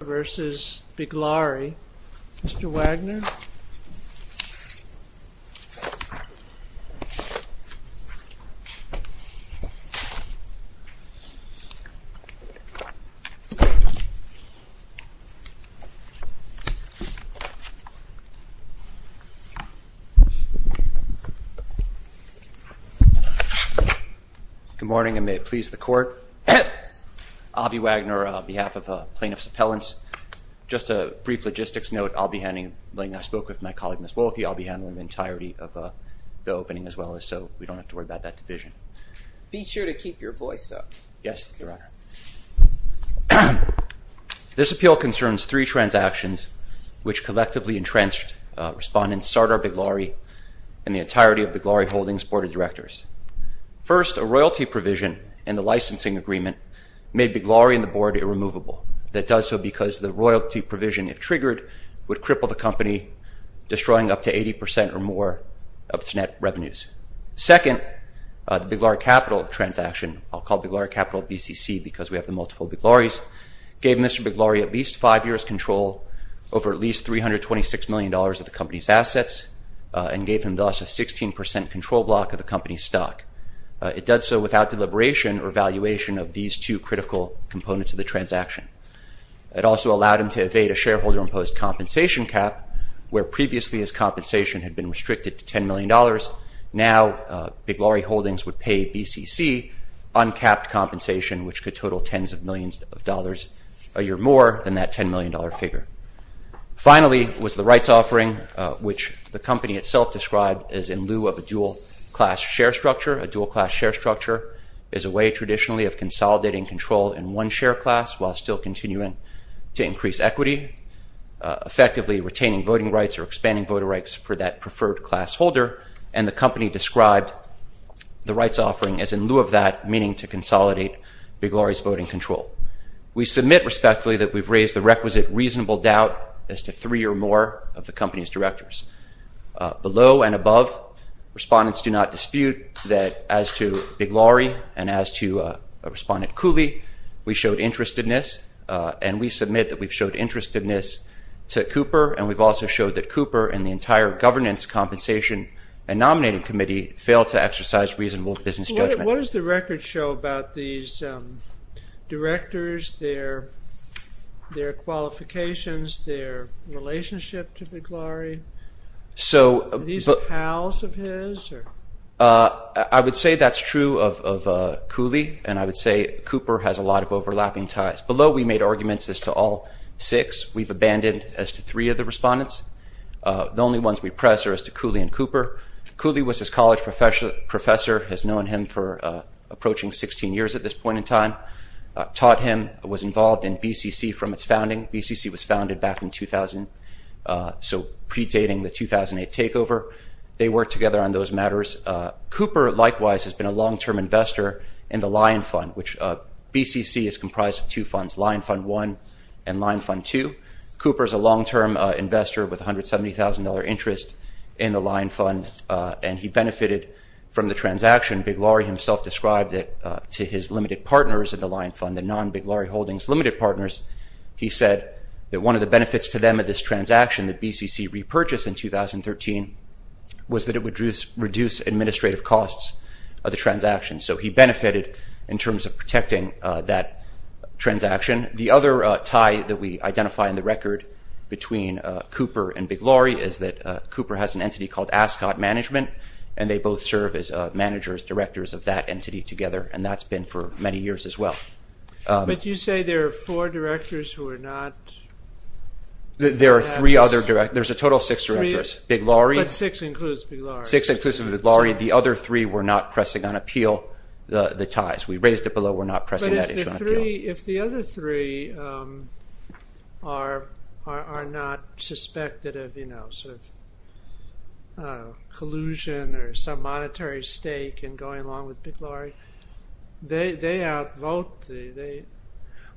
Mr. Wagner Good morning, and may it please the court Avi Wagner on behalf of plaintiff's appellants. Just a brief logistics note. I'll be handling I spoke with my colleague miss Wolke I'll be handling the entirety of The opening as well as so we don't have to worry about that division. Be sure to keep your voice up. Yes This appeal concerns three transactions which collectively entrenched respondents Sardar Biglari and the entirety of the glory holdings board of directors First a royalty provision and the licensing agreement made Biglari and the board Irremovable that does so because the royalty provision if triggered would cripple the company Destroying up to 80 percent or more of its net revenues Second the big large capital transaction. I'll call the large capital BCC because we have the multiple big lorries gave mr Biglari at least five years control over at least three hundred twenty six million dollars of the company's assets And gave him thus a sixteen percent control block of the company's stock It does so without deliberation or valuation of these two critical components of the transaction It also allowed him to evade a shareholder imposed compensation cap where previously his compensation had been restricted to ten million dollars now Big Laurie holdings would pay BCC Uncapped compensation which could total tens of millions of dollars a year more than that ten million dollar figure Finally was the rights offering which the company itself described as in lieu of a dual class share structure a dual class share structure is A way traditionally of consolidating control in one share class while still continuing to increase equity Effectively retaining voting rights or expanding voter rights for that preferred class holder and the company described The rights offering is in lieu of that meaning to consolidate big lorries voting control We submit respectfully that we've raised the requisite reasonable doubt as to three or more of the company's directors below and above Respondents do not dispute that as to Big Laurie and as to a respondent Cooley We showed interestedness and we submit that we've showed interestedness To Cooper and we've also showed that Cooper and the entire governance Compensation and nominating committee failed to exercise reasonable business judgment. What does the record show about these? Directors their their qualifications their relationship to Big Laurie so these are pals of his or I would say that's true of Cooley and I would say Cooper has a lot of overlapping ties below. We made arguments as to all six We've abandoned as to three of the respondents The only ones we press are as to Cooley and Cooper Cooley was his college professor Professor has known him for approaching 16 years at this point in time Taught him was involved in BCC from its founding BCC was founded back in 2000 So predating the 2008 takeover they worked together on those matters Cooper likewise has been a long-term investor in the lion fund which BCC is comprised of two funds lion fund one and lion fund two Cooper is a long-term investor with $170,000 interest in the lion fund and he benefited From the transaction Big Laurie himself described it to his limited partners in the lion fund the non Big Laurie holdings limited partners He said that one of the benefits to them at this transaction that BCC repurchase in 2013 Was that it would reduce reduce administrative costs of the transaction. So he benefited in terms of protecting that transaction the other tie that we identify in the record between Cooper and Big Laurie is that Cooper has an entity called Ascot management and they both serve as managers directors of that entity together And that's been for many years as well But you say there are four directors who are not There are three other direct. There's a total six directors Big Laurie six includes six inclusive with Laurie the other three We're not pressing on appeal the the ties. We raised it below. We're not pressing if the other three Are are not suspected of you know, sort of Collusion or some monetary stake and going along with Big Laurie They they outvote the they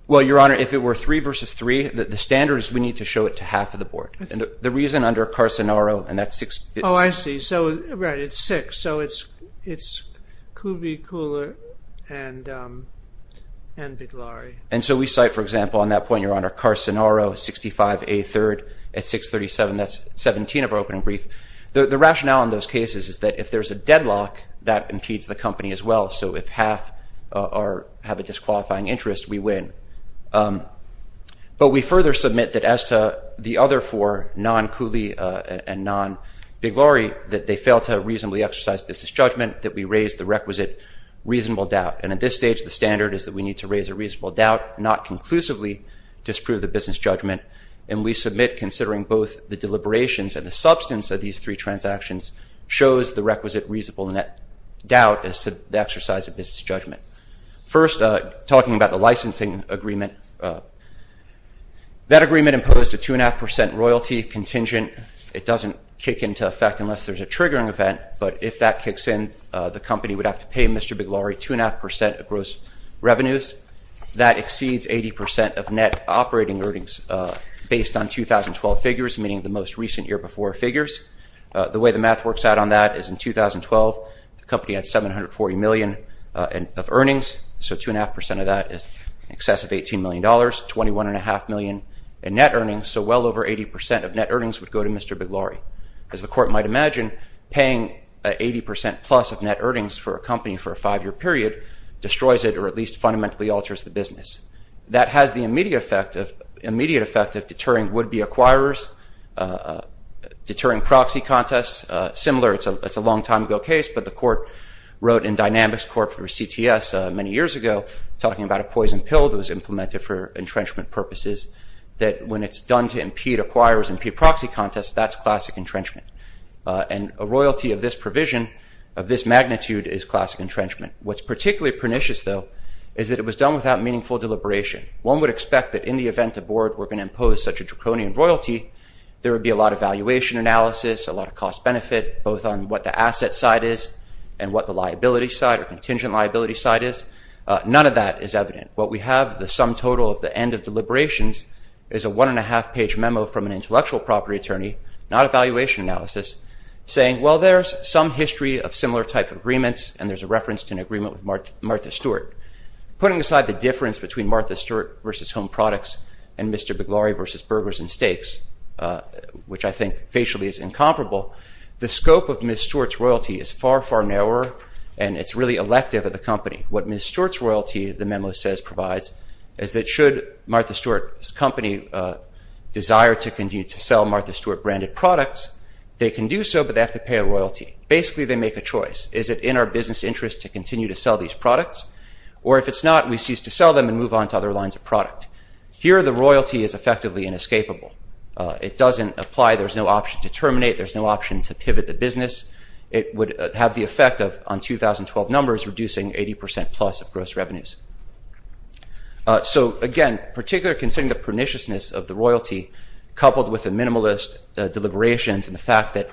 well, your honor if it were three versus three that the standards we need to show it to half of the board and the Reason under Carson Aro, and that's six. Oh, I see. So right. It's six. So it's it's Kubi cooler and And Big Laurie and so we cite for example on that point your honor Carson Aro 65 a third at 637 That's 17 of our opening brief. The rationale in those cases is that if there's a deadlock that impedes the company as well So if half are have a disqualifying interest we win But we further submit that as to the other four non Cooley and non Big Laurie that they fail to reasonably exercise business judgment that we raised the requisite Reasonable doubt and at this stage the standard is that we need to raise a reasonable doubt not conclusively Disprove the business judgment and we submit considering both the deliberations and the substance of these three transactions Shows the requisite reasonable net doubt as to the exercise of business judgment first talking about the licensing agreement That agreement imposed a two and a half percent royalty contingent It doesn't kick into effect unless there's a triggering event But if that kicks in the company would have to pay mr. Big Laurie two and a half percent of gross revenues That exceeds 80% of net operating earnings Based on 2012 figures meaning the most recent year before figures the way the math works out on that is in 2012 The company had 740 million and of earnings So two and a half percent of that is in excess of 18 million dollars 21 and a half million and net earnings So well over 80% of net earnings would go to mr Big Laurie as the court might imagine paying 80% plus of net earnings for a company for a five-year period Destroys it or at least fundamentally alters the business that has the immediate effect of immediate effect of deterring would-be acquirers Deterring proxy contests similar It's a long time ago case But the court wrote in dynamics court for CTS many years ago Talking about a poison pill that was implemented for entrenchment purposes that when it's done to impede acquirers and p proxy contests That's classic entrenchment and a royalty of this provision of this magnitude is classic entrenchment What's particularly pernicious though? Is that it was done without meaningful deliberation one would expect that in the event aboard we're going to impose such a draconian royalty There would be a lot of valuation Analysis a lot of cost-benefit both on what the asset side is and what the liability side or contingent liability side is None of that is evident What we have the sum total of the end of deliberations is a one and a half page memo from an intellectual property attorney Not a valuation analysis saying well, there's some history of similar type of agreements and there's a reference to an agreement with Martha Stewart Putting aside the difference between Martha Stewart versus home products and mr. Big Laurie versus burgers and steaks Which I think facially is incomparable The scope of miss Stewart's royalty is far far narrower and it's really elective of the company what miss Stewart's royalty The memo says provides is that should Martha Stewart's company? Desire to continue to sell Martha Stewart branded products they can do so but they have to pay a royalty Basically, they make a choice Is it in our business interest to continue to sell these products or if it's not we cease to sell them and move on to? Other lines of product here. The royalty is effectively inescapable. It doesn't apply. There's no option to terminate There's no option to pivot the business. It would have the effect of on 2012 numbers reducing 80% plus of gross revenues So again particular considering the perniciousness of the royalty coupled with the minimalist Deliberations and the fact that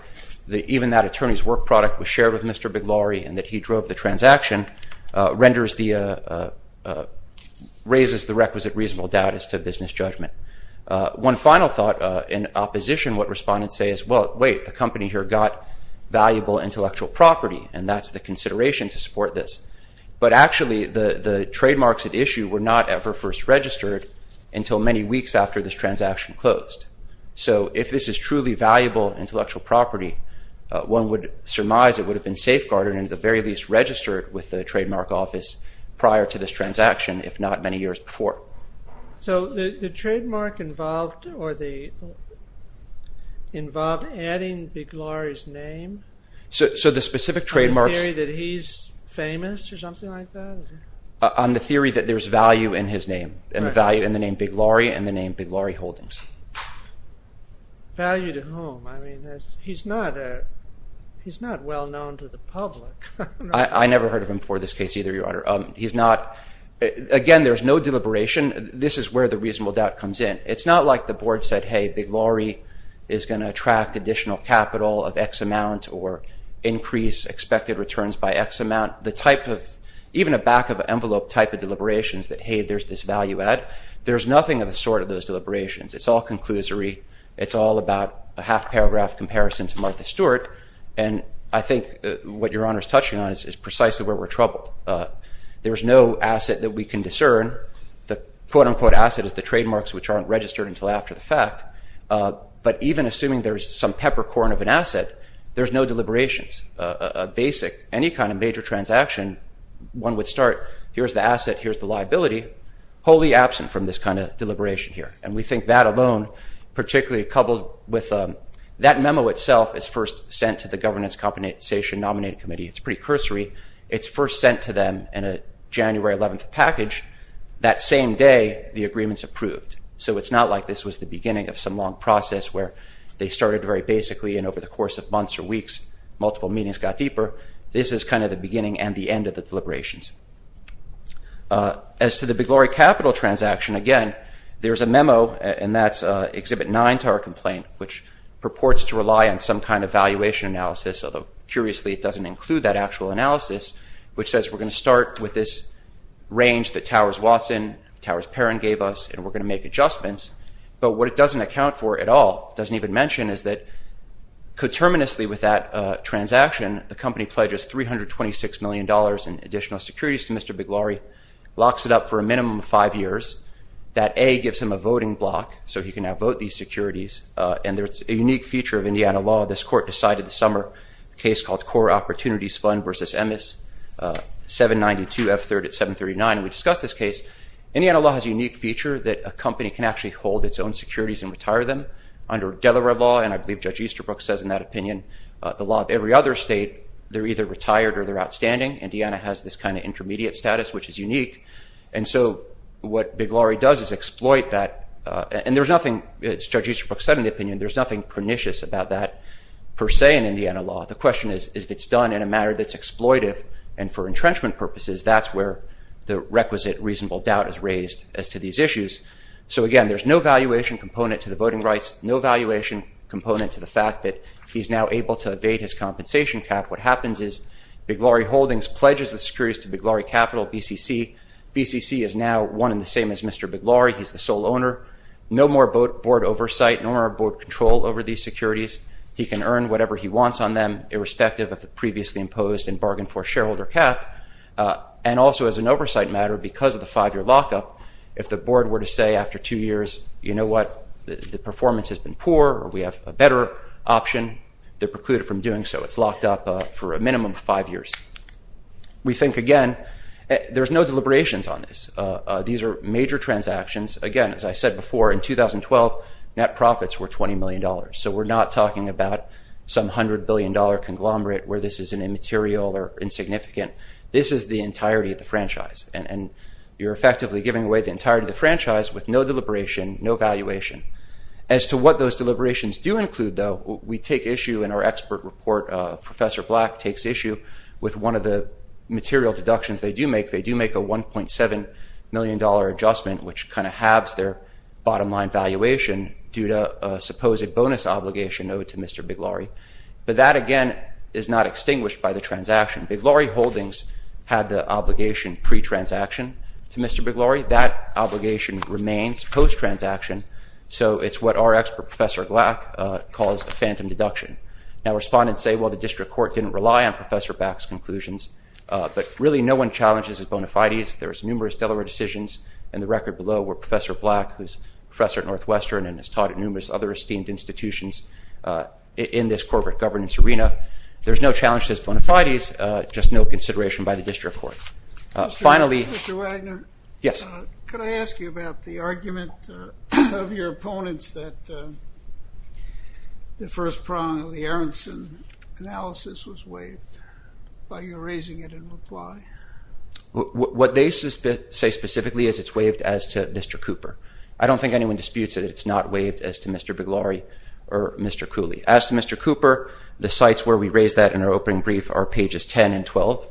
the even that attorneys work product was shared with mr. Big Laurie and that he drove the transaction renders the Raises the requisite reasonable doubt as to business judgment One final thought in opposition what respondents say is well wait the company here got Valuable intellectual property and that's the consideration to support this But actually the the trademarks at issue were not ever first registered until many weeks after this transaction closed So if this is truly valuable intellectual property One would surmise it would have been safeguarded in the very least registered with the trademark office prior to this transaction if not many years before so the the trademark involved or the Involved adding big Laurie's name So the specific trademark theory that he's famous or something like that On the theory that there's value in his name and the value in the name big Laurie and the name big Laurie holdings Value to home He's not He's not well known to the public. I never heard of him for this case either your honor. Um, he's not Again, there's no deliberation. This is where the reasonable doubt comes in. It's not like the board said hey big Laurie is going to attract additional capital of X amount or Increase expected returns by X amount the type of even a back of an envelope type of deliberations that hey There's this value add there's nothing of a sort of those deliberations. It's all conclusory It's all about a half paragraph comparison to Martha Stewart And I think what your honor is touching on is is precisely where we're troubled There's no asset that we can discern the quote-unquote asset is the trademarks which aren't registered until after the fact But even assuming there's some peppercorn of an asset. There's no deliberations a Basic any kind of major transaction one would start. Here's the asset. Here's the liability Wholly absent from this kind of deliberation here and we think that alone Particularly coupled with that memo itself is first sent to the governance compensation nominated committee. It's pretty cursory It's first sent to them in a January 11th package that same day the agreements approved So it's not like this was the beginning of some long process where they started very basically and over the course of months or weeks Multiple meetings got deeper. This is kind of the beginning and the end of the deliberations As to the big glory capital transaction again, there's a memo and that's exhibit 9 to our complaint which Purports to rely on some kind of valuation analysis, although curiously it doesn't include that actual analysis, which says we're going to start with this Range that Towers Watson, Towers Perrin gave us and we're going to make adjustments but what it doesn't account for at all doesn't even mention is that Coterminously with that Transaction the company pledges three hundred twenty six million dollars in additional securities to mr. Big Laurie locks it up for a minimum of five years That a gives him a voting block so he can now vote these securities and there's a unique feature of Indiana law This court decided the summer case called core opportunities fund versus Emmett's 792 F 3rd at 739 and we discussed this case Indiana law has a unique feature that a company can actually hold its own securities and retire them Under Delaware law and I believe judge Easterbrook says in that opinion the law of every other state They're either retired or they're outstanding. Indiana has this kind of intermediate status, which is unique And so what big Laurie does is exploit that and there's nothing it's judge Easterbrook said in the opinion There's nothing pernicious about that per se in Indiana law The question is if it's done in a matter that's exploitive and for entrenchment purposes That's where the requisite reasonable doubt is raised as to these issues So again, there's no valuation component to the voting rights No valuation component to the fact that he's now able to evade his compensation cap What happens is big Laurie Holdings pledges the securities to big Laurie capital BCC BCC is now one in the same as mr Big Laurie, he's the sole owner no more boat board oversight nor our board control over these securities He can earn whatever he wants on them irrespective of the previously imposed and bargained for shareholder cap And also as an oversight matter because of the five-year lockup if the board were to say after two years, you know What the performance has been poor or we have a better option that precluded from doing so it's locked up for a minimum of five years We think again There's no deliberations on this. These are major transactions again As I said before in 2012 net profits were 20 million dollars So we're not talking about some hundred billion dollar conglomerate where this is an immaterial or insignificant This is the entirety of the franchise and and you're effectively giving away the entirety of the franchise with no deliberation No valuation as to what those deliberations do include though We take issue in our expert report professor black takes issue with one of the material deductions They do make they do make a 1.7 million dollar adjustment which kind of halves their bottom line valuation due to a supposed bonus Obligation owed to mr. Big Laurie, but that again is not extinguished by the transaction Big Laurie holdings had the obligation pre-transaction To mr. Big Laurie that obligation remains post transaction So it's what our expert professor black calls the phantom deduction now respondents say well the district court didn't rely on professor backs conclusions But really no one challenges as bona fides There's numerous Delaware decisions and the record below were professor black who's professor at Northwestern and has taught at numerous other esteemed institutions In this corporate governance arena, there's no challenge to this bona fides. Just no consideration by the district court finally Yes The first prong of the Aronson Analysis was waived While you're raising it in reply What they suspect say specifically is it's waived as to mr. Cooper. I don't think anyone disputes it It's not waived as to mr. Big Laurie or mr. Cooley as to mr Cooper the sites where we raise that in our opening brief are pages 10 and 12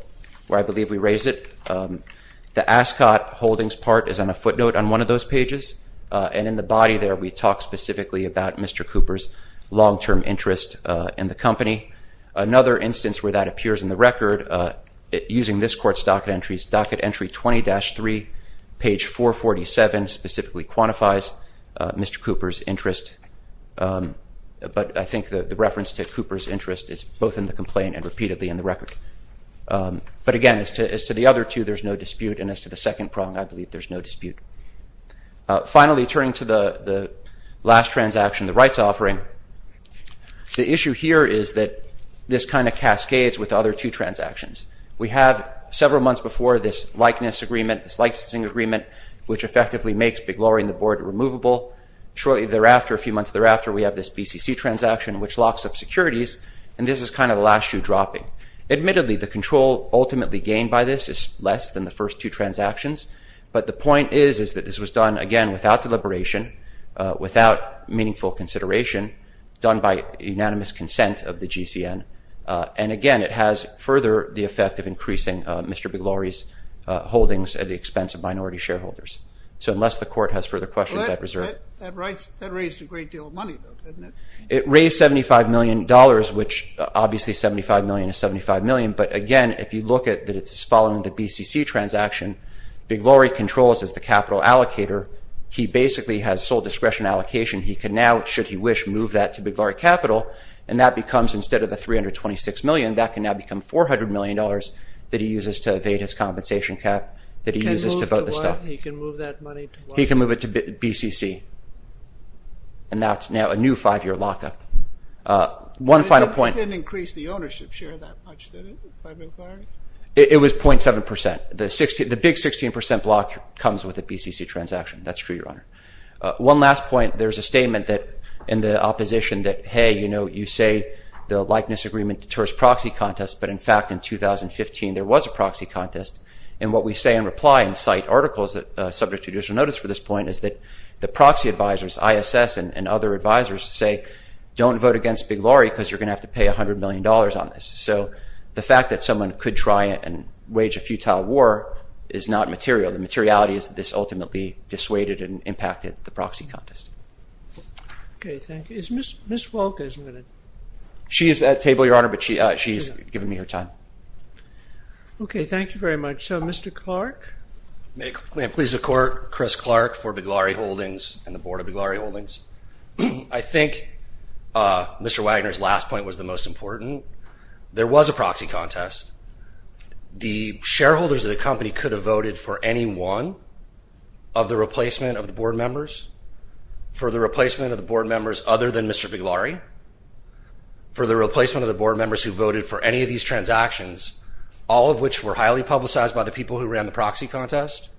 where I believe we raise it The Ascot holdings part is on a footnote on one of those pages and in the body there we talked specifically about mr Cooper's long-term interest in the company another instance where that appears in the record Using this court's docket entries docket entry 20-3 page 447 specifically quantifies Mr. Cooper's interest But I think the reference to Cooper's interest is both in the complaint and repeatedly in the record But again as to as to the other two, there's no dispute and as to the second prong. I believe there's no dispute Finally turning to the the last transaction the rights offering The issue here is that this kind of cascades with other two transactions We have several months before this likeness agreement this licensing agreement, which effectively makes Big Laurie and the board removable Shortly thereafter a few months thereafter. We have this PCC transaction which locks up securities and this is kind of the last shoe-dropping Admittedly the control ultimately gained by this is less than the first two transactions But the point is is that this was done again without deliberation without meaningful consideration Done by unanimous consent of the GCN and again, it has further the effect of increasing. Mr. Big Laurie's Holdings at the expense of minority shareholders. So unless the court has further questions, I preserve It raised 75 million dollars, which obviously 75 million is 75 million But again, if you look at that, it's following the BCC transaction Big Laurie controls as the capital allocator He basically has sole discretion allocation He can now it should he wish move that to Big Laurie capital and that becomes instead of the 326 million that can now become 400 million dollars that he uses to evade his compensation cap that he uses to vote the stuff he can move it to BCC and That's now a new five-year lockup one final point It was 0.7 percent the 60 the big 16 percent block comes with a BCC transaction, that's true your honor One last point there's a statement that in the opposition that hey, you know You say the likeness agreement deters proxy contest but in fact in 2015 there was a proxy contest and what we say in reply and cite articles that subject judicial notice for this point is that the proxy advisors ISS and other advisors say Don't vote against Big Laurie because you're gonna have to pay a hundred million dollars on this So the fact that someone could try it and wage a futile war is not material The materiality is this ultimately dissuaded and impacted the proxy contest She is that table your honor, but she she's giving me her time Okay. Thank you very much. So mr. Clark Make please the court Chris Clark for Big Laurie Holdings and the board of Big Laurie Holdings. I think Mr. Wagner's last point was the most important There was a proxy contest the shareholders of the company could have voted for any one of the replacement of the board members For the replacement of the board members other than mr. Big Laurie For the replacement of the board members who voted for any of these transactions All of which were highly publicized by the people who ran the proxy contest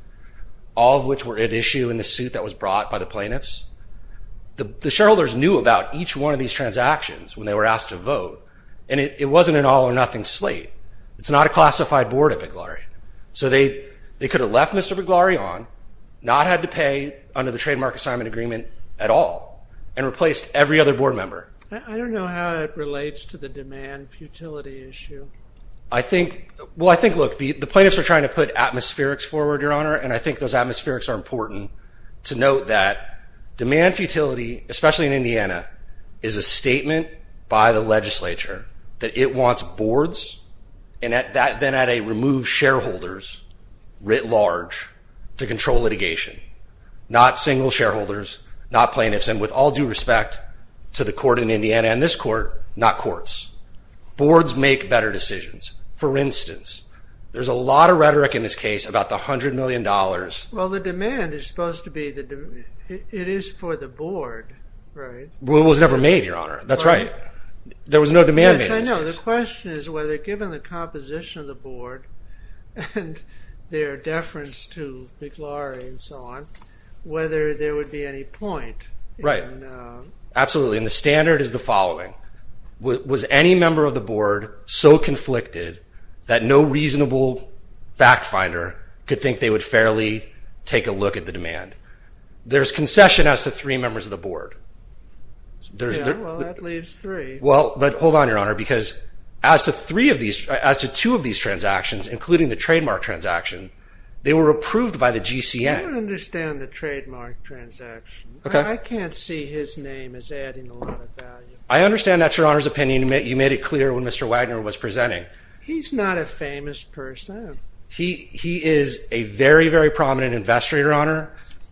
All of which were at issue in the suit that was brought by the plaintiffs The the shareholders knew about each one of these transactions when they were asked to vote and it wasn't an all-or-nothing slate It's not a classified board at Big Laurie. So they they could have left. Mr Big Laurie on not had to pay under the trademark assignment agreement at all and replaced every other board member I don't know how it relates to the demand futility issue I think well, I think look the the plaintiffs are trying to put atmospherics forward your honor and I think those atmospherics are important to note that Demand-futility, especially in Indiana is a statement by the legislature that it wants boards and at that Then at a removed shareholders writ large to control litigation Not single shareholders not plaintiffs and with all due respect to the court in Indiana and this court not courts Boards make better decisions. For instance, there's a lot of rhetoric in this case about the hundred million dollars Well, the demand is supposed to be the It is for the board, right? Well, it was never made your honor. That's right There was no demand. I know the question is whether given the composition of the board and Their deference to Big Laurie and so on whether there would be any point, right? Absolutely, and the standard is the following Was any member of the board so conflicted that no reasonable? Fact finder could think they would fairly take a look at the demand. There's concession as to three members of the board There's Well, but hold on your honor because as to three of these as to two of these transactions including the trademark transaction They were approved by the GCN Okay, I can't see his name is adding I understand that's your honor's opinion to make you made it clear when mr Wagner was presenting. He's not a famous person he he is a very very prominent investor your honor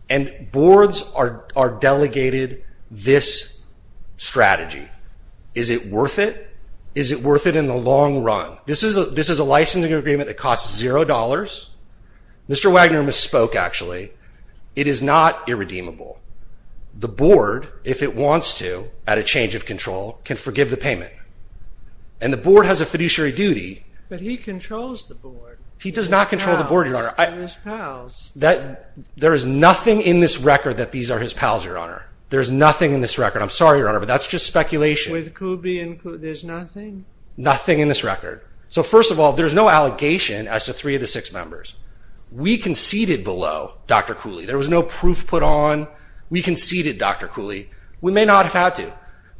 and Boards are are delegated this Strategy, is it worth it? Is it worth it in the long run? This is a this is a licensing agreement that costs $0 Mr. Wagner misspoke. Actually, it is not irredeemable the board if it wants to at a change of control can forgive the payment and The board has a fiduciary duty, but he controls the board. He does not control the board your honor I miss pals that there is nothing in this record that these are his pals your honor. There's nothing in this record I'm sorry, your honor, but that's just speculation Nothing in this record. So first of all, there's no allegation as to three of the six members we conceded below. Dr Cooley there was no proof put on we conceded. Dr. Cooley. We may not have had to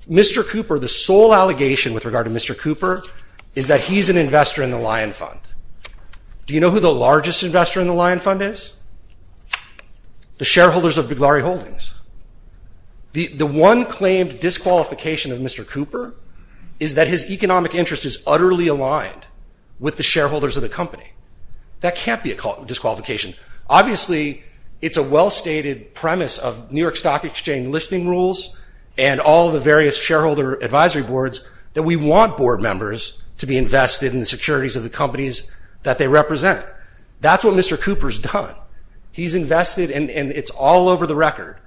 Mr. Cooper the sole allegation with regard to Mr. Cooper is that he's an investor in the lion fund Do you know who the largest investor in the lion fund is? the shareholders of the glory holdings The the one claimed disqualification of Mr. Cooper is that his economic interest is utterly aligned With the shareholders of the company that can't be a disqualification Obviously, it's a well stated premise of New York Stock Exchange listing rules and all the various shareholder advisory boards That we want board members to be invested in the securities of the companies that they represent. That's what mr Cooper's done he's invested and and it's all over the record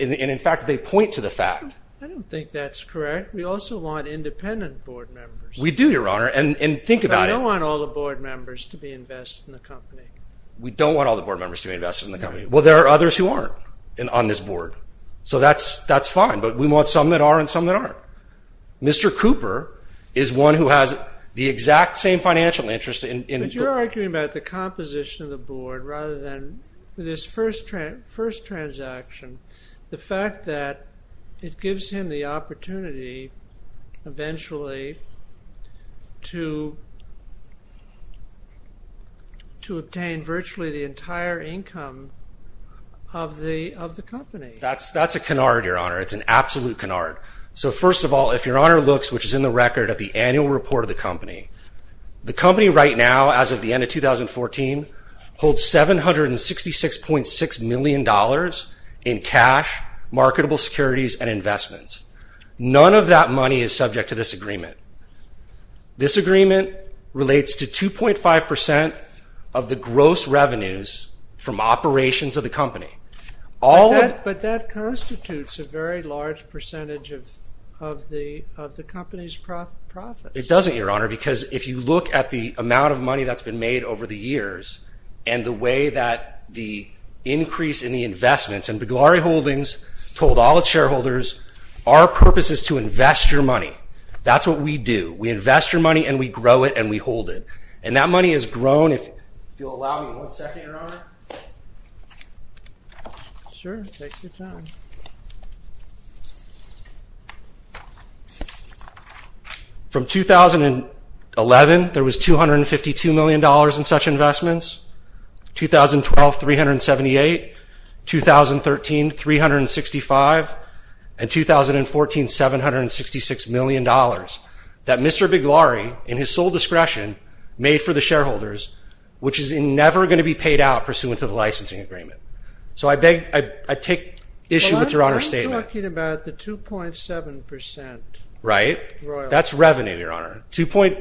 and in fact, they point to the fact I don't think that's correct. We also want independent board members We do your honor and and think about I don't want all the board members to be invested in the company We don't want all the board members to be invested in the company. Well, there are others who aren't and on this board So that's that's fine, but we want some that are and some that aren't Mr. Cooper is one who has the exact same financial interest in you're arguing about the composition of the board rather than This first trend first transaction the fact that it gives him the opportunity eventually to To Obtain virtually the entire income of The of the company that's that's a canard your honor. It's an absolute canard So first of all, if your honor looks which is in the record at the annual report of the company the company right now as of the end of 2014 holds 766 point six million dollars in cash marketable securities and investments None of that money is subject to this agreement This agreement relates to 2.5 percent of the gross revenues from operations of the company All that but that constitutes a very large percentage of of the of the company's profit it doesn't your honor because if you look at the amount of money that's been made over the years and the way that the Increase in the investments and big lorry holdings told all the shareholders our purpose is to invest your money That's what we do. We invest your money and we grow it and we hold it and that money has grown if From 2011 there was two hundred and fifty two million dollars in such investments 2012 378 2013 365 and 2014 766 million dollars that mr. Big lorry in his sole discretion made for the shareholders Which is in never going to be paid out pursuant to the licensing agreement So I beg I take issue with your honor statement about the two point seven percent, right? That's revenue your honor to point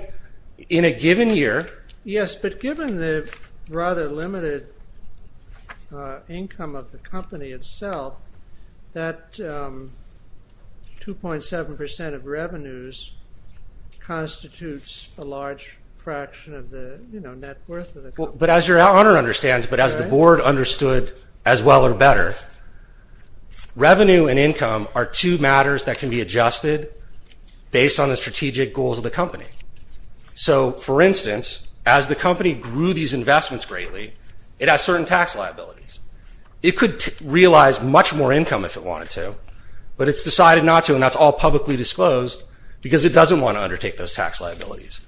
in a given year. Yes, but given the rather limited Income of the company itself that Two point seven percent of revenues Constitutes a large fraction of the you know, but as your honor understands, but as the board understood as well or better Revenue and income are two matters that can be adjusted Based on the strategic goals of the company So for instance as the company grew these investments greatly it has certain tax liabilities It could realize much more income if it wanted to but it's decided not to and that's all publicly disclosed Because it doesn't want to undertake those tax liabilities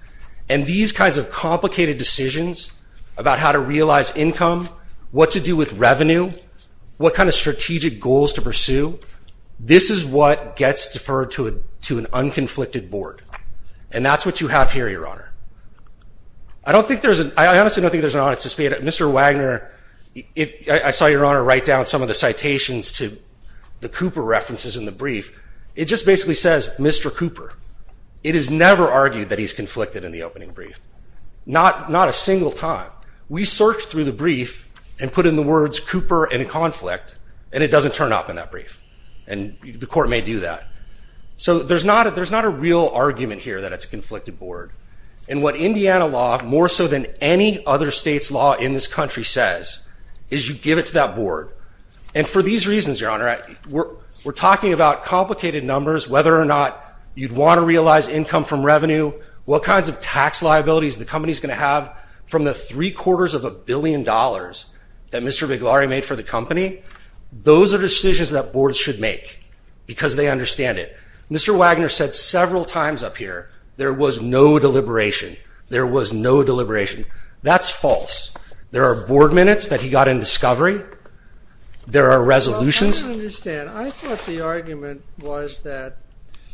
and these kinds of complicated decisions about how to realize income What to do with revenue? What kind of strategic goals to pursue? This is what gets deferred to it to an unconflicted board. And that's what you have here your honor. I Don't think there's an I honestly don't think there's an honest to speed up. Mr. Wagner If I saw your honor write down some of the citations to the Cooper references in the brief, it just basically says mr Cooper it is never argued that he's conflicted in the opening brief Not not a single time we searched through the brief and put in the words Cooper and conflict and it doesn't turn up in that brief and The court may do that So there's not a there's not a real argument here that it's a conflicted board and what Indiana law more so than any other states Law in this country says is you give it to that board and for these reasons your honor I we're we're talking about complicated numbers whether or not you'd want to realize income from revenue What kinds of tax liabilities the company's going to have from the three-quarters of a billion dollars that mr Big Laurie made for the company. Those are decisions that boards should make because they understand it. Mr Wagner said several times up here. There was no deliberation. There was no deliberation. That's false There are board minutes that he got in discovery There are resolutions Understand. I thought the argument was that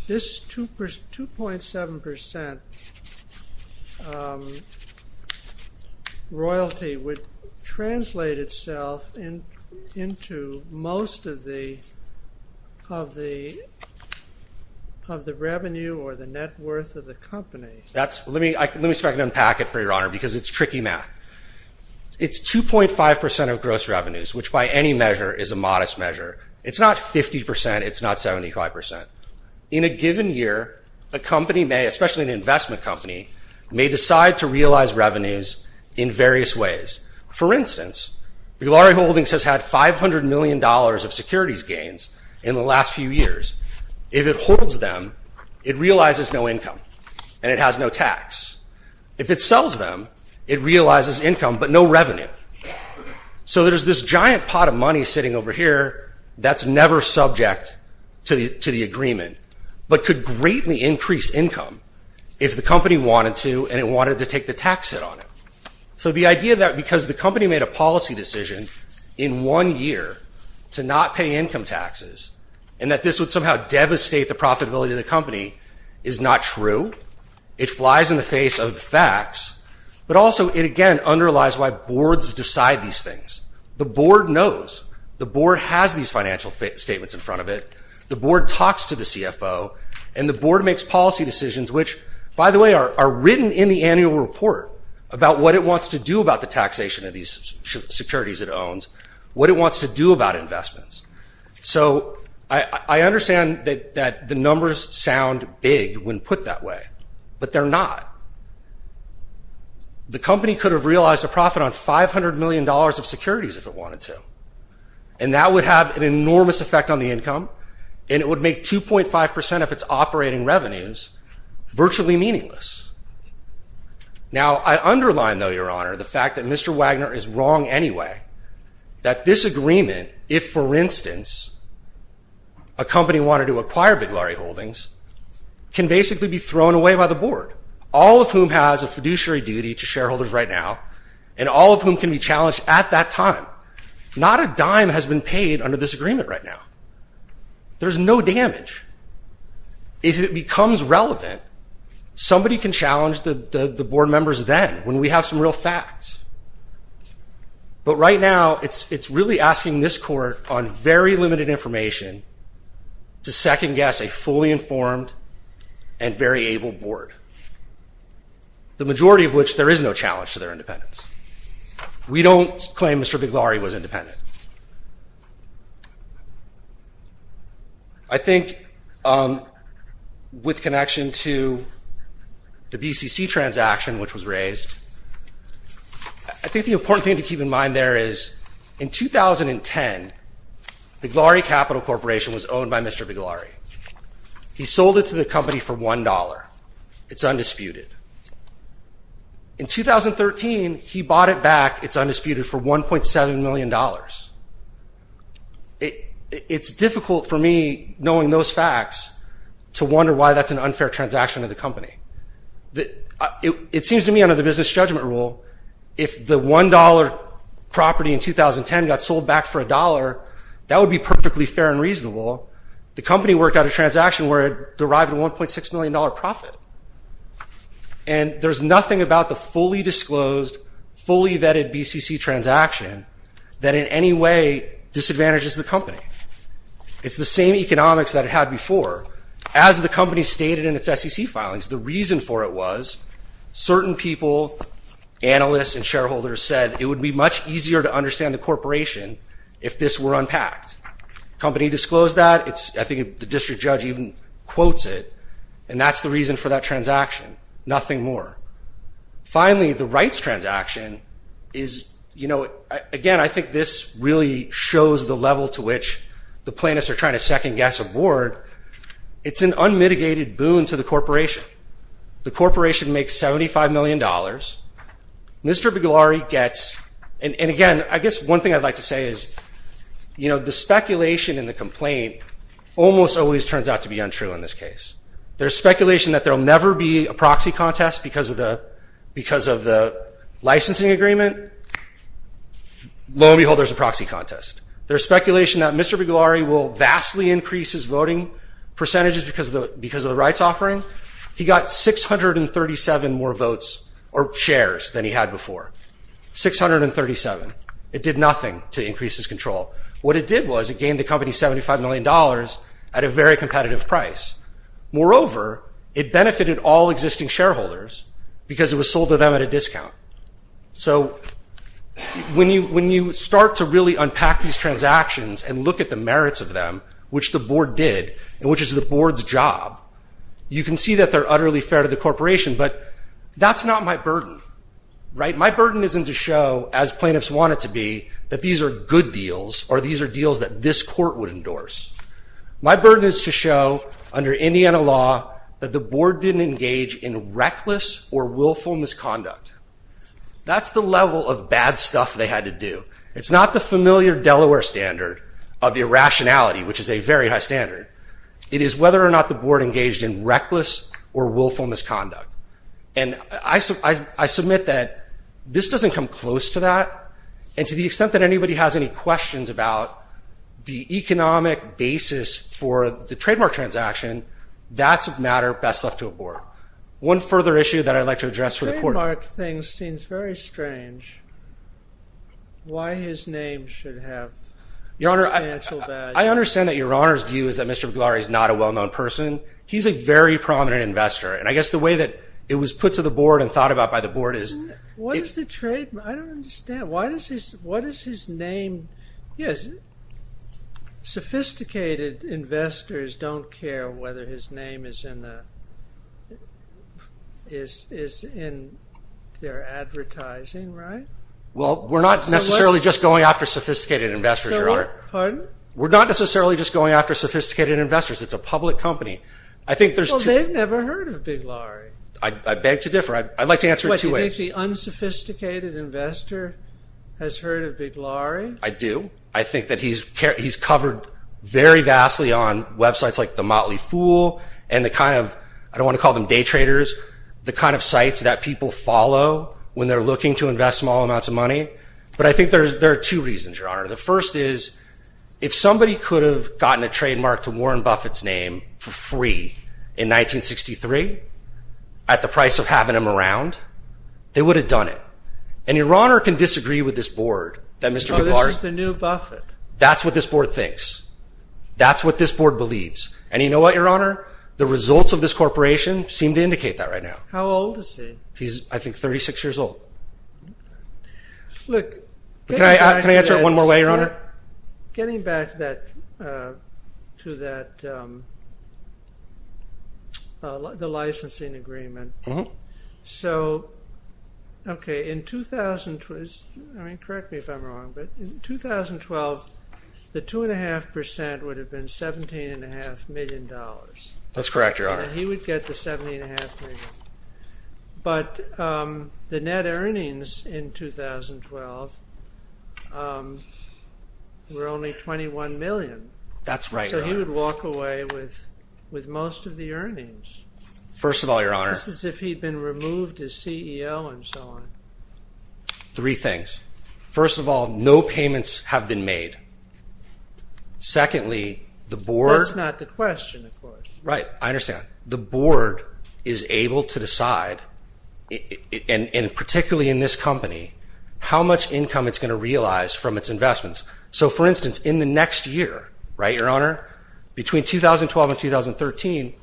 this two percent two point seven percent Royalty would translate itself in into most of the of the Of the revenue or the net worth of the company that's let me let me start to unpack it for your honor because it's tricky It's two point five percent of gross revenues, which by any measure is a modest measure it's not fifty percent It's not seventy five percent in a given year a company may especially an investment company May decide to realize revenues in various ways for instance Laurie holdings has had five hundred million dollars of securities gains in the last few years if it holds them It realizes no income and it has no tax If it sells them it realizes income but no revenue So there's this giant pot of money sitting over here That's never subject to the to the agreement But could greatly increase income if the company wanted to and it wanted to take the tax hit on it So the idea that because the company made a policy decision in one year To not pay income taxes and that this would somehow devastate the profitability of the company is not true It flies in the face of facts But also it again underlies why boards decide these things the board knows The board has these financial statements in front of it The board talks to the CFO and the board makes policy decisions Which by the way are written in the annual report about what it wants to do about the taxation of these Securities it owns what it wants to do about investments So I understand that that the numbers sound big when put that way But they're not The company could have realized a profit on five hundred million dollars of securities if it wanted to and That would have an enormous effect on the income and it would make 2.5 percent of its operating revenues virtually meaningless Now I underline though your honor the fact that mr. Wagner is wrong. Anyway that this agreement if for instance a Board all of whom has a fiduciary duty to shareholders right now and all of whom can be challenged at that time Not a dime has been paid under this agreement right now There's no damage If it becomes relevant Somebody can challenge the the board members then when we have some real facts But right now it's it's really asking this court on very limited information To second-guess a fully informed and very able board The majority of which there is no challenge to their independence. We don't claim. Mr. Big Laurie was independent. I Think With connection to the BCC transaction which was raised I Think the important thing to keep in mind there is in 2010 The glory capital corporation was owned by mr. Big Laurie He sold it to the company for $1. It's undisputed In 2013, he bought it back. It's undisputed for 1.7 million dollars It it's difficult for me knowing those facts to wonder why that's an unfair transaction of the company That it seems to me under the business judgment rule if the $1 Property in 2010 got sold back for $1. That would be perfectly fair and reasonable the company worked out a transaction where it derived a 1.6 million dollar profit and There's nothing about the fully disclosed fully vetted BCC transaction that in any way Disadvantages the company It's the same economics that it had before as the company stated in its SEC filings. The reason for it was certain people Analysts and shareholders said it would be much easier to understand the corporation if this were unpacked Company disclosed that it's I think the district judge even quotes it and that's the reason for that transaction. Nothing more finally the rights transaction is You know again, I think this really shows the level to which the plaintiffs are trying to second-guess a board It's an unmitigated boon to the corporation. The corporation makes 75 million dollars Mr. Bigilare gets and again, I guess one thing I'd like to say is You know the speculation in the complaint almost always turns out to be untrue in this case there's speculation that there'll never be a proxy contest because of the because of the licensing agreement Lo and behold, there's a proxy contest. There's speculation that Mr. Bigilare will vastly increase his voting Percentages because of the because of the rights offering he got six hundred and thirty seven more votes or shares than he had before 637 it did nothing to increase his control. What it did was it gained the company 75 million dollars at a very competitive price Moreover, it benefited all existing shareholders because it was sold to them at a discount. So When you when you start to really unpack these transactions and look at the merits of them Which the board did and which is the board's job? You can see that they're utterly fair to the corporation, but that's not my burden Right. My burden isn't to show as plaintiffs want it to be that these are good deals or these are deals that this court would endorse My burden is to show under Indiana law that the board didn't engage in reckless or willful misconduct That's the level of bad stuff. They had to do It's not the familiar Delaware standard of the irrationality, which is a very high standard it is whether or not the board engaged in reckless or willful misconduct and I Submit that this doesn't come close to that and to the extent that anybody has any questions about the economic Basis for the trademark transaction. That's a matter best left to a board one further issue that I'd like to address for the court Mark things seems very strange Why his name should have Your honor. I understand that your honor's view is that mr. Glory is not a well-known person He's a very prominent investor And I guess the way that it was put to the board and thought about by the board is what is the trade? I don't understand. Why does he what is his name? Yes Sophisticated investors don't care whether his name is in the Is is in their advertising, right Well, we're not necessarily just going after sophisticated investors. You're on We're not necessarily just going after sophisticated investors. It's a public company. I think there's never heard of big Laurie, I beg to differ. I'd like to answer what you think the unsophisticated Investor has heard of big Laurie. I do I think that he's cared He's covered very vastly on websites like the Motley Fool and the kind of I don't want to call them day traders The kind of sites that people follow when they're looking to invest small amounts of money But I think there's there are two reasons your honor The first is if somebody could have gotten a trademark to Warren Buffett's name for free in 1963 at the price of having him around They would have done it and your honor can disagree with this board that mr. Bar is the new Buffett. That's what this board thinks That's what this board believes and you know what your honor The results of this corporation seem to indicate that right now. How old is he? He's I think 36 years old Look, can I answer it one more way your honor getting back that to that? The licensing agreement. Mm-hmm, so Okay in 2000 twist. I mean correct me if I'm wrong, but in 2012 the two and a half percent would have been 17 and a half million dollars. That's correct. Your honor. He would get the 70 and a half but the net earnings in 2012 We're only 21 million, that's right, so he would walk away with with most of the earnings First of all, your honor. This is if he'd been removed as CEO and so on Three things first of all, no payments have been made Secondly the board's not the question, of course, right? I understand the board is able to decide And particularly in this company how much income it's going to realize from its investments So for instance in the next year, right your honor between 2012 and 2013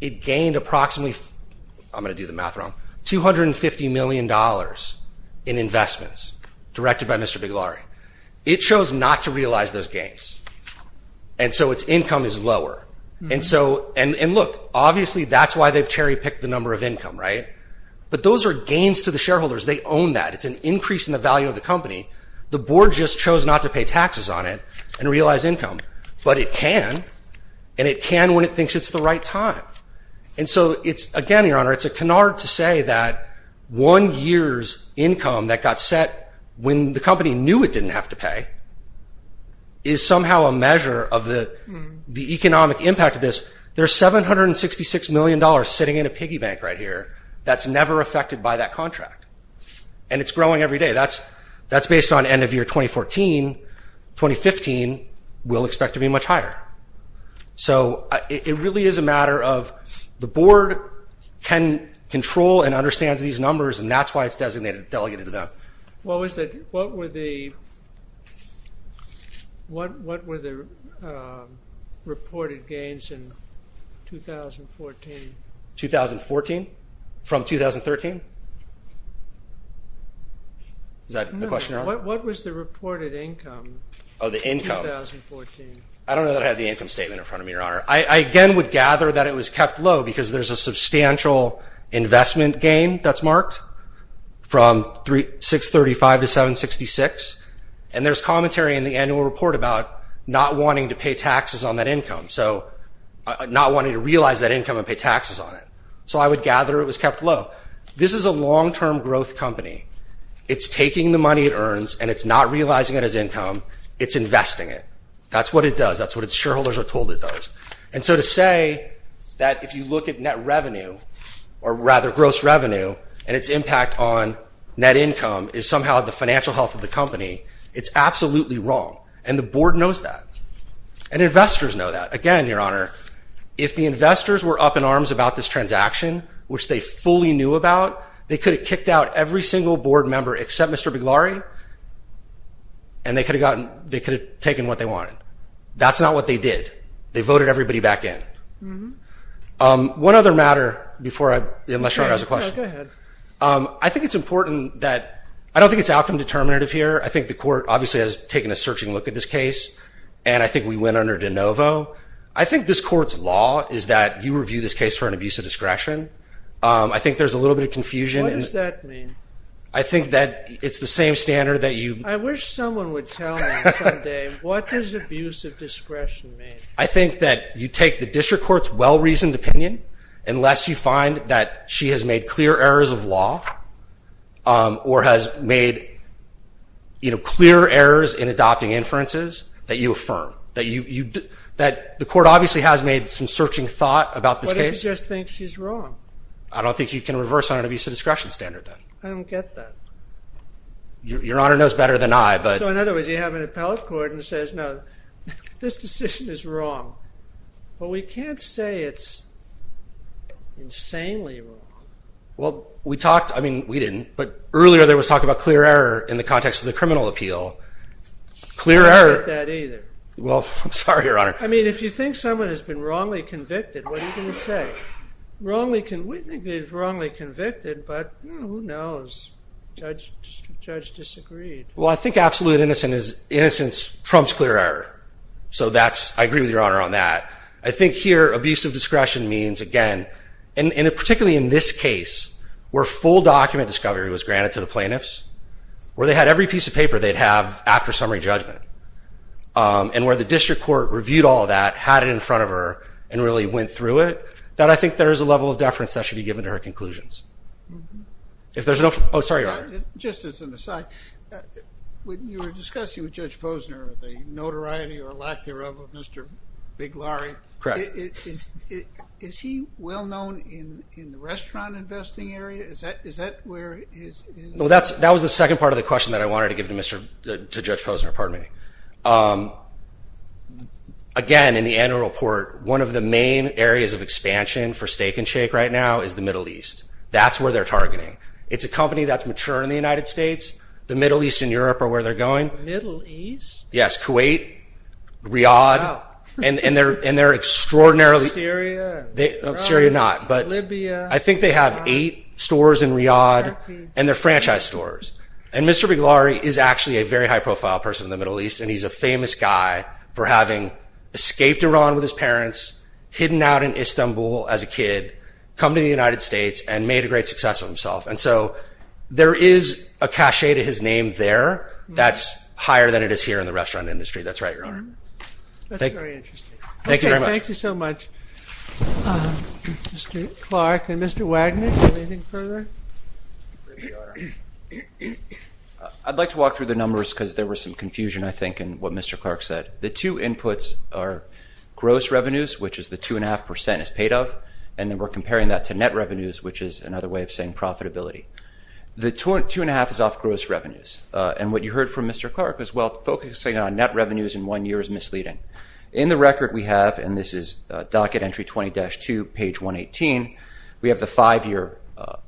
It gained approximately. I'm gonna do the math wrong 250 million dollars in It chose not to realize those gains and So its income is lower. And so and and look obviously that's why they've cherry-picked the number of income, right? But those are gains to the shareholders. They own that it's an increase in the value of the company The board just chose not to pay taxes on it and realize income But it can and it can when it thinks it's the right time And so it's again your honor. It's a canard to say that One year's income that got set when the company knew it didn't have to pay is somehow a measure of the Economic impact of this there's seven hundred and sixty six million dollars sitting in a piggy bank right here That's never affected by that contract and it's growing every day. That's that's based on end of year 2014 2015 will expect to be much higher So it really is a matter of the board Can control and understands these numbers and that's why it's designated delegated to them. Well, we said what were the What what were the Reported gains in 2014 2014 from 2013 Is that the question what was the reported income of the income I don't know that I had the income statement in front of me your honor I again would gather that it was kept low because there's a substantial investment gain that's marked from three six thirty five to seven sixty six and there's commentary in the annual report about Not wanting to pay taxes on that income. So Not wanting to realize that income and pay taxes on it. So I would gather it was kept low This is a long-term growth company. It's taking the money it earns and it's not realizing it as income. It's investing it That's what it does that's what its shareholders are told it does and so to say that if you look at net revenue or Rather gross revenue and its impact on net income is somehow the financial health of the company it's absolutely wrong and the board knows that and Investors know that again your honor if the investors were up in arms about this transaction Which they fully knew about they could have kicked out every single board member except. Mr. Big Laurie and They could have gotten they could have taken what they wanted. That's not what they did. They voted everybody back in One other matter before I unless you're as a question I think it's important that I don't think it's outcome determinative here I think the court obviously has taken a searching look at this case, and I think we went under de novo I think this court's law is that you review this case for an abuse of discretion I think there's a little bit of confusion. Is that I think that it's the same standard that you I wish someone would What does abuse of discretion mean? I think that you take the district courts well-reasoned opinion unless you find that she has made clear errors of law or has made You know clear errors in adopting inferences that you affirm that you you that the court obviously has made some searching thought about this Case just think she's wrong. I don't think you can reverse on an abuse of discretion standard that I don't get that Your honor knows better than I but in other words you have an appellate court and says no this decision is wrong but we can't say it's Insanely well, we talked I mean we didn't but earlier there was talk about clear error in the context of the criminal appeal Clearer that either. Well, I'm sorry your honor. I mean if you think someone has been wrongly convicted, what are you gonna say? Wrongly can we think they've wrongly convicted, but who knows? Judge Judge disagreed. Well, I think absolute innocent is innocence trumps clear error So that's I agree with your honor on that I think here abuse of discretion means again and particularly in this case where full document discovery was granted to the plaintiffs Where they had every piece of paper they'd have after summary judgment And where the district court reviewed all that had it in front of her and really went through it That I think there is a level of deference that should be given to her conclusions If there's no, oh, sorry, just as an aside When you were discussing with Judge Posner the notoriety or lack thereof of mr. Big Laurie, correct? Is he well known in in the restaurant investing area? Is that is that where? Well, that's that was the second part of the question that I wanted to give to mr. Judge Posner. Pardon me Again in the annual report one of the main areas of expansion for steak and shake right now is the Middle East That's where they're targeting. It's a company that's mature in the United States. The Middle East in Europe are where they're going Middle East. Yes, Kuwait Riyadh and and they're in there extraordinarily Syria They Syria not but I think they have eight stores in Riyadh and their franchise stores And mr. Big Laurie is actually a very high-profile person in the Middle East and he's a famous guy for having Escaped Iran with his parents hidden out in Istanbul as a kid come to the United States and made a great success of himself And so there is a cachet to his name there. That's higher than it is here in the restaurant industry. That's right, Your Honor Thank you so much Clark and mr. Wagner I'd like to walk through the numbers because there was some confusion I think and what mr. Clark said the two inputs are Gross revenues, which is the two and a half percent is paid of and then we're comparing that to net revenues Which is another way of saying profitability the torrent two and a half is off gross revenues and what you heard from. Mr Clark as well focusing on net revenues in one year is misleading in the record We have and this is docket entry 20-2 page 118. We have the five-year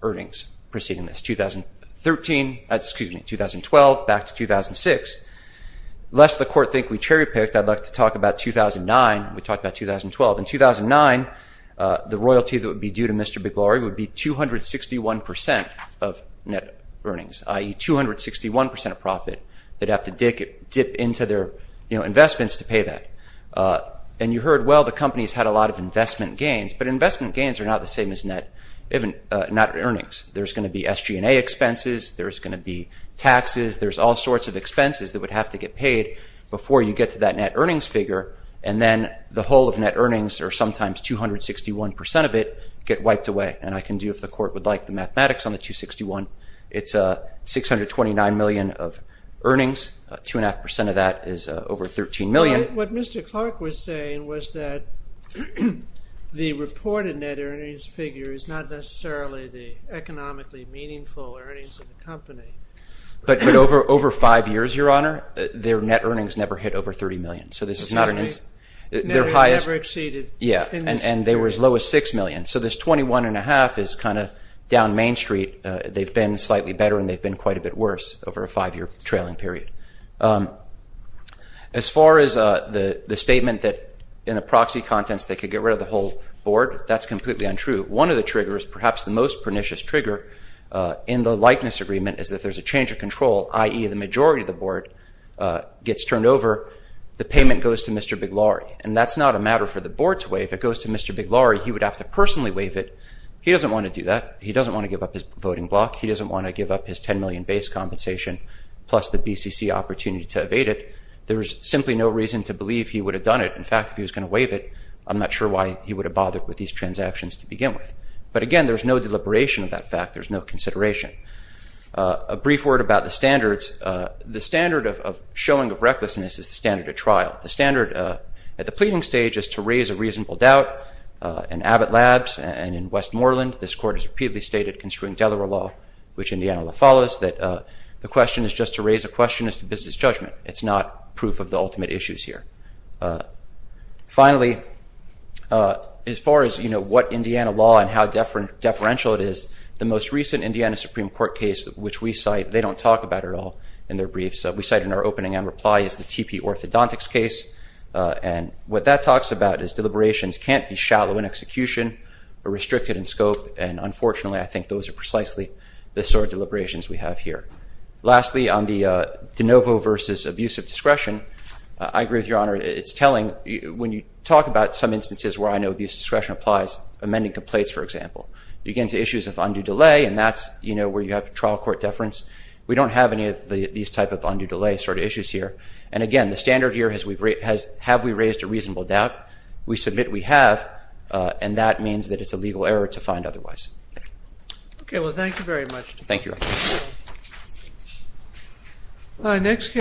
earnings proceeding this 2013 excuse me 2012 back to 2006 Lest the court think we cherry-picked. I'd like to talk about 2009. We talked about 2012 in 2009 The royalty that would be due to mr. Big Laurie would be 261% of net earnings ie 261% of profit that have to dick it dip into their, you know investments to pay that And you heard well, the company's had a lot of investment gains But investment gains are not the same as net even not earnings. There's going to be SG&A expenses. There's going to be taxes there's all sorts of expenses that would have to get paid before you get to that net earnings figure and then the whole of net Earnings are sometimes 261% of it get wiped away and I can do if the court would like the mathematics on the 261. It's a 629 million of earnings two and a half percent of that is over 13 million. What mr. Clark was saying was that The reported net earnings figure is not necessarily the economically meaningful Company but but over over five years your honor their net earnings never hit over 30 million. So this is not an Their highest yeah, and and they were as low as six million. So this 21 and a half is kind of down Main Street They've been slightly better and they've been quite a bit worse over a five-year trailing period As far as the the statement that in a proxy contents they could get rid of the whole board That's completely untrue. One of the triggers perhaps the most pernicious trigger In the likeness agreement is that there's a change of control ie the majority of the board Gets turned over the payment goes to mr. Big Laurie, and that's not a matter for the board to waive It goes to mr. Big Laurie. He would have to personally waive it. He doesn't want to do that He doesn't want to give up his voting block. He doesn't want to give up his 10 million base compensation Plus the BCC opportunity to evade it. There's simply no reason to believe he would have done it In fact, if he was going to waive it I'm not sure why he would have bothered with these transactions to begin with There's no consideration a brief word about the standards The standard of showing of recklessness is the standard of trial the standard at the pleading stage is to raise a reasonable doubt In Abbott labs and in Westmoreland This court has repeatedly stated constraint Delaware law which Indiana law follows that The question is just to raise a question as to business judgment. It's not proof of the ultimate issues here Finally As far as you know What Indiana law and how different deferential it is the most recent Indiana Supreme Court case which we cite they don't talk about at all In their briefs that we cite in our opening and reply is the TP orthodontics case and what that talks about is deliberations can't be shallow in execution or restricted in scope and Unfortunately, I think those are precisely the sort of deliberations we have here Lastly on the de novo versus abuse of discretion. I agree with your honor It's telling when you talk about some instances where I know abuse discretion applies amending complaints For example, you get into issues of undue delay and that's you know, where you have trial court deference We don't have any of these type of undue delay sort of issues here And again, the standard here has we've rate has have we raised a reasonable doubt we submit we have And that means that it's a legal error to find otherwise Okay. Well, thank you very much. Thank you My next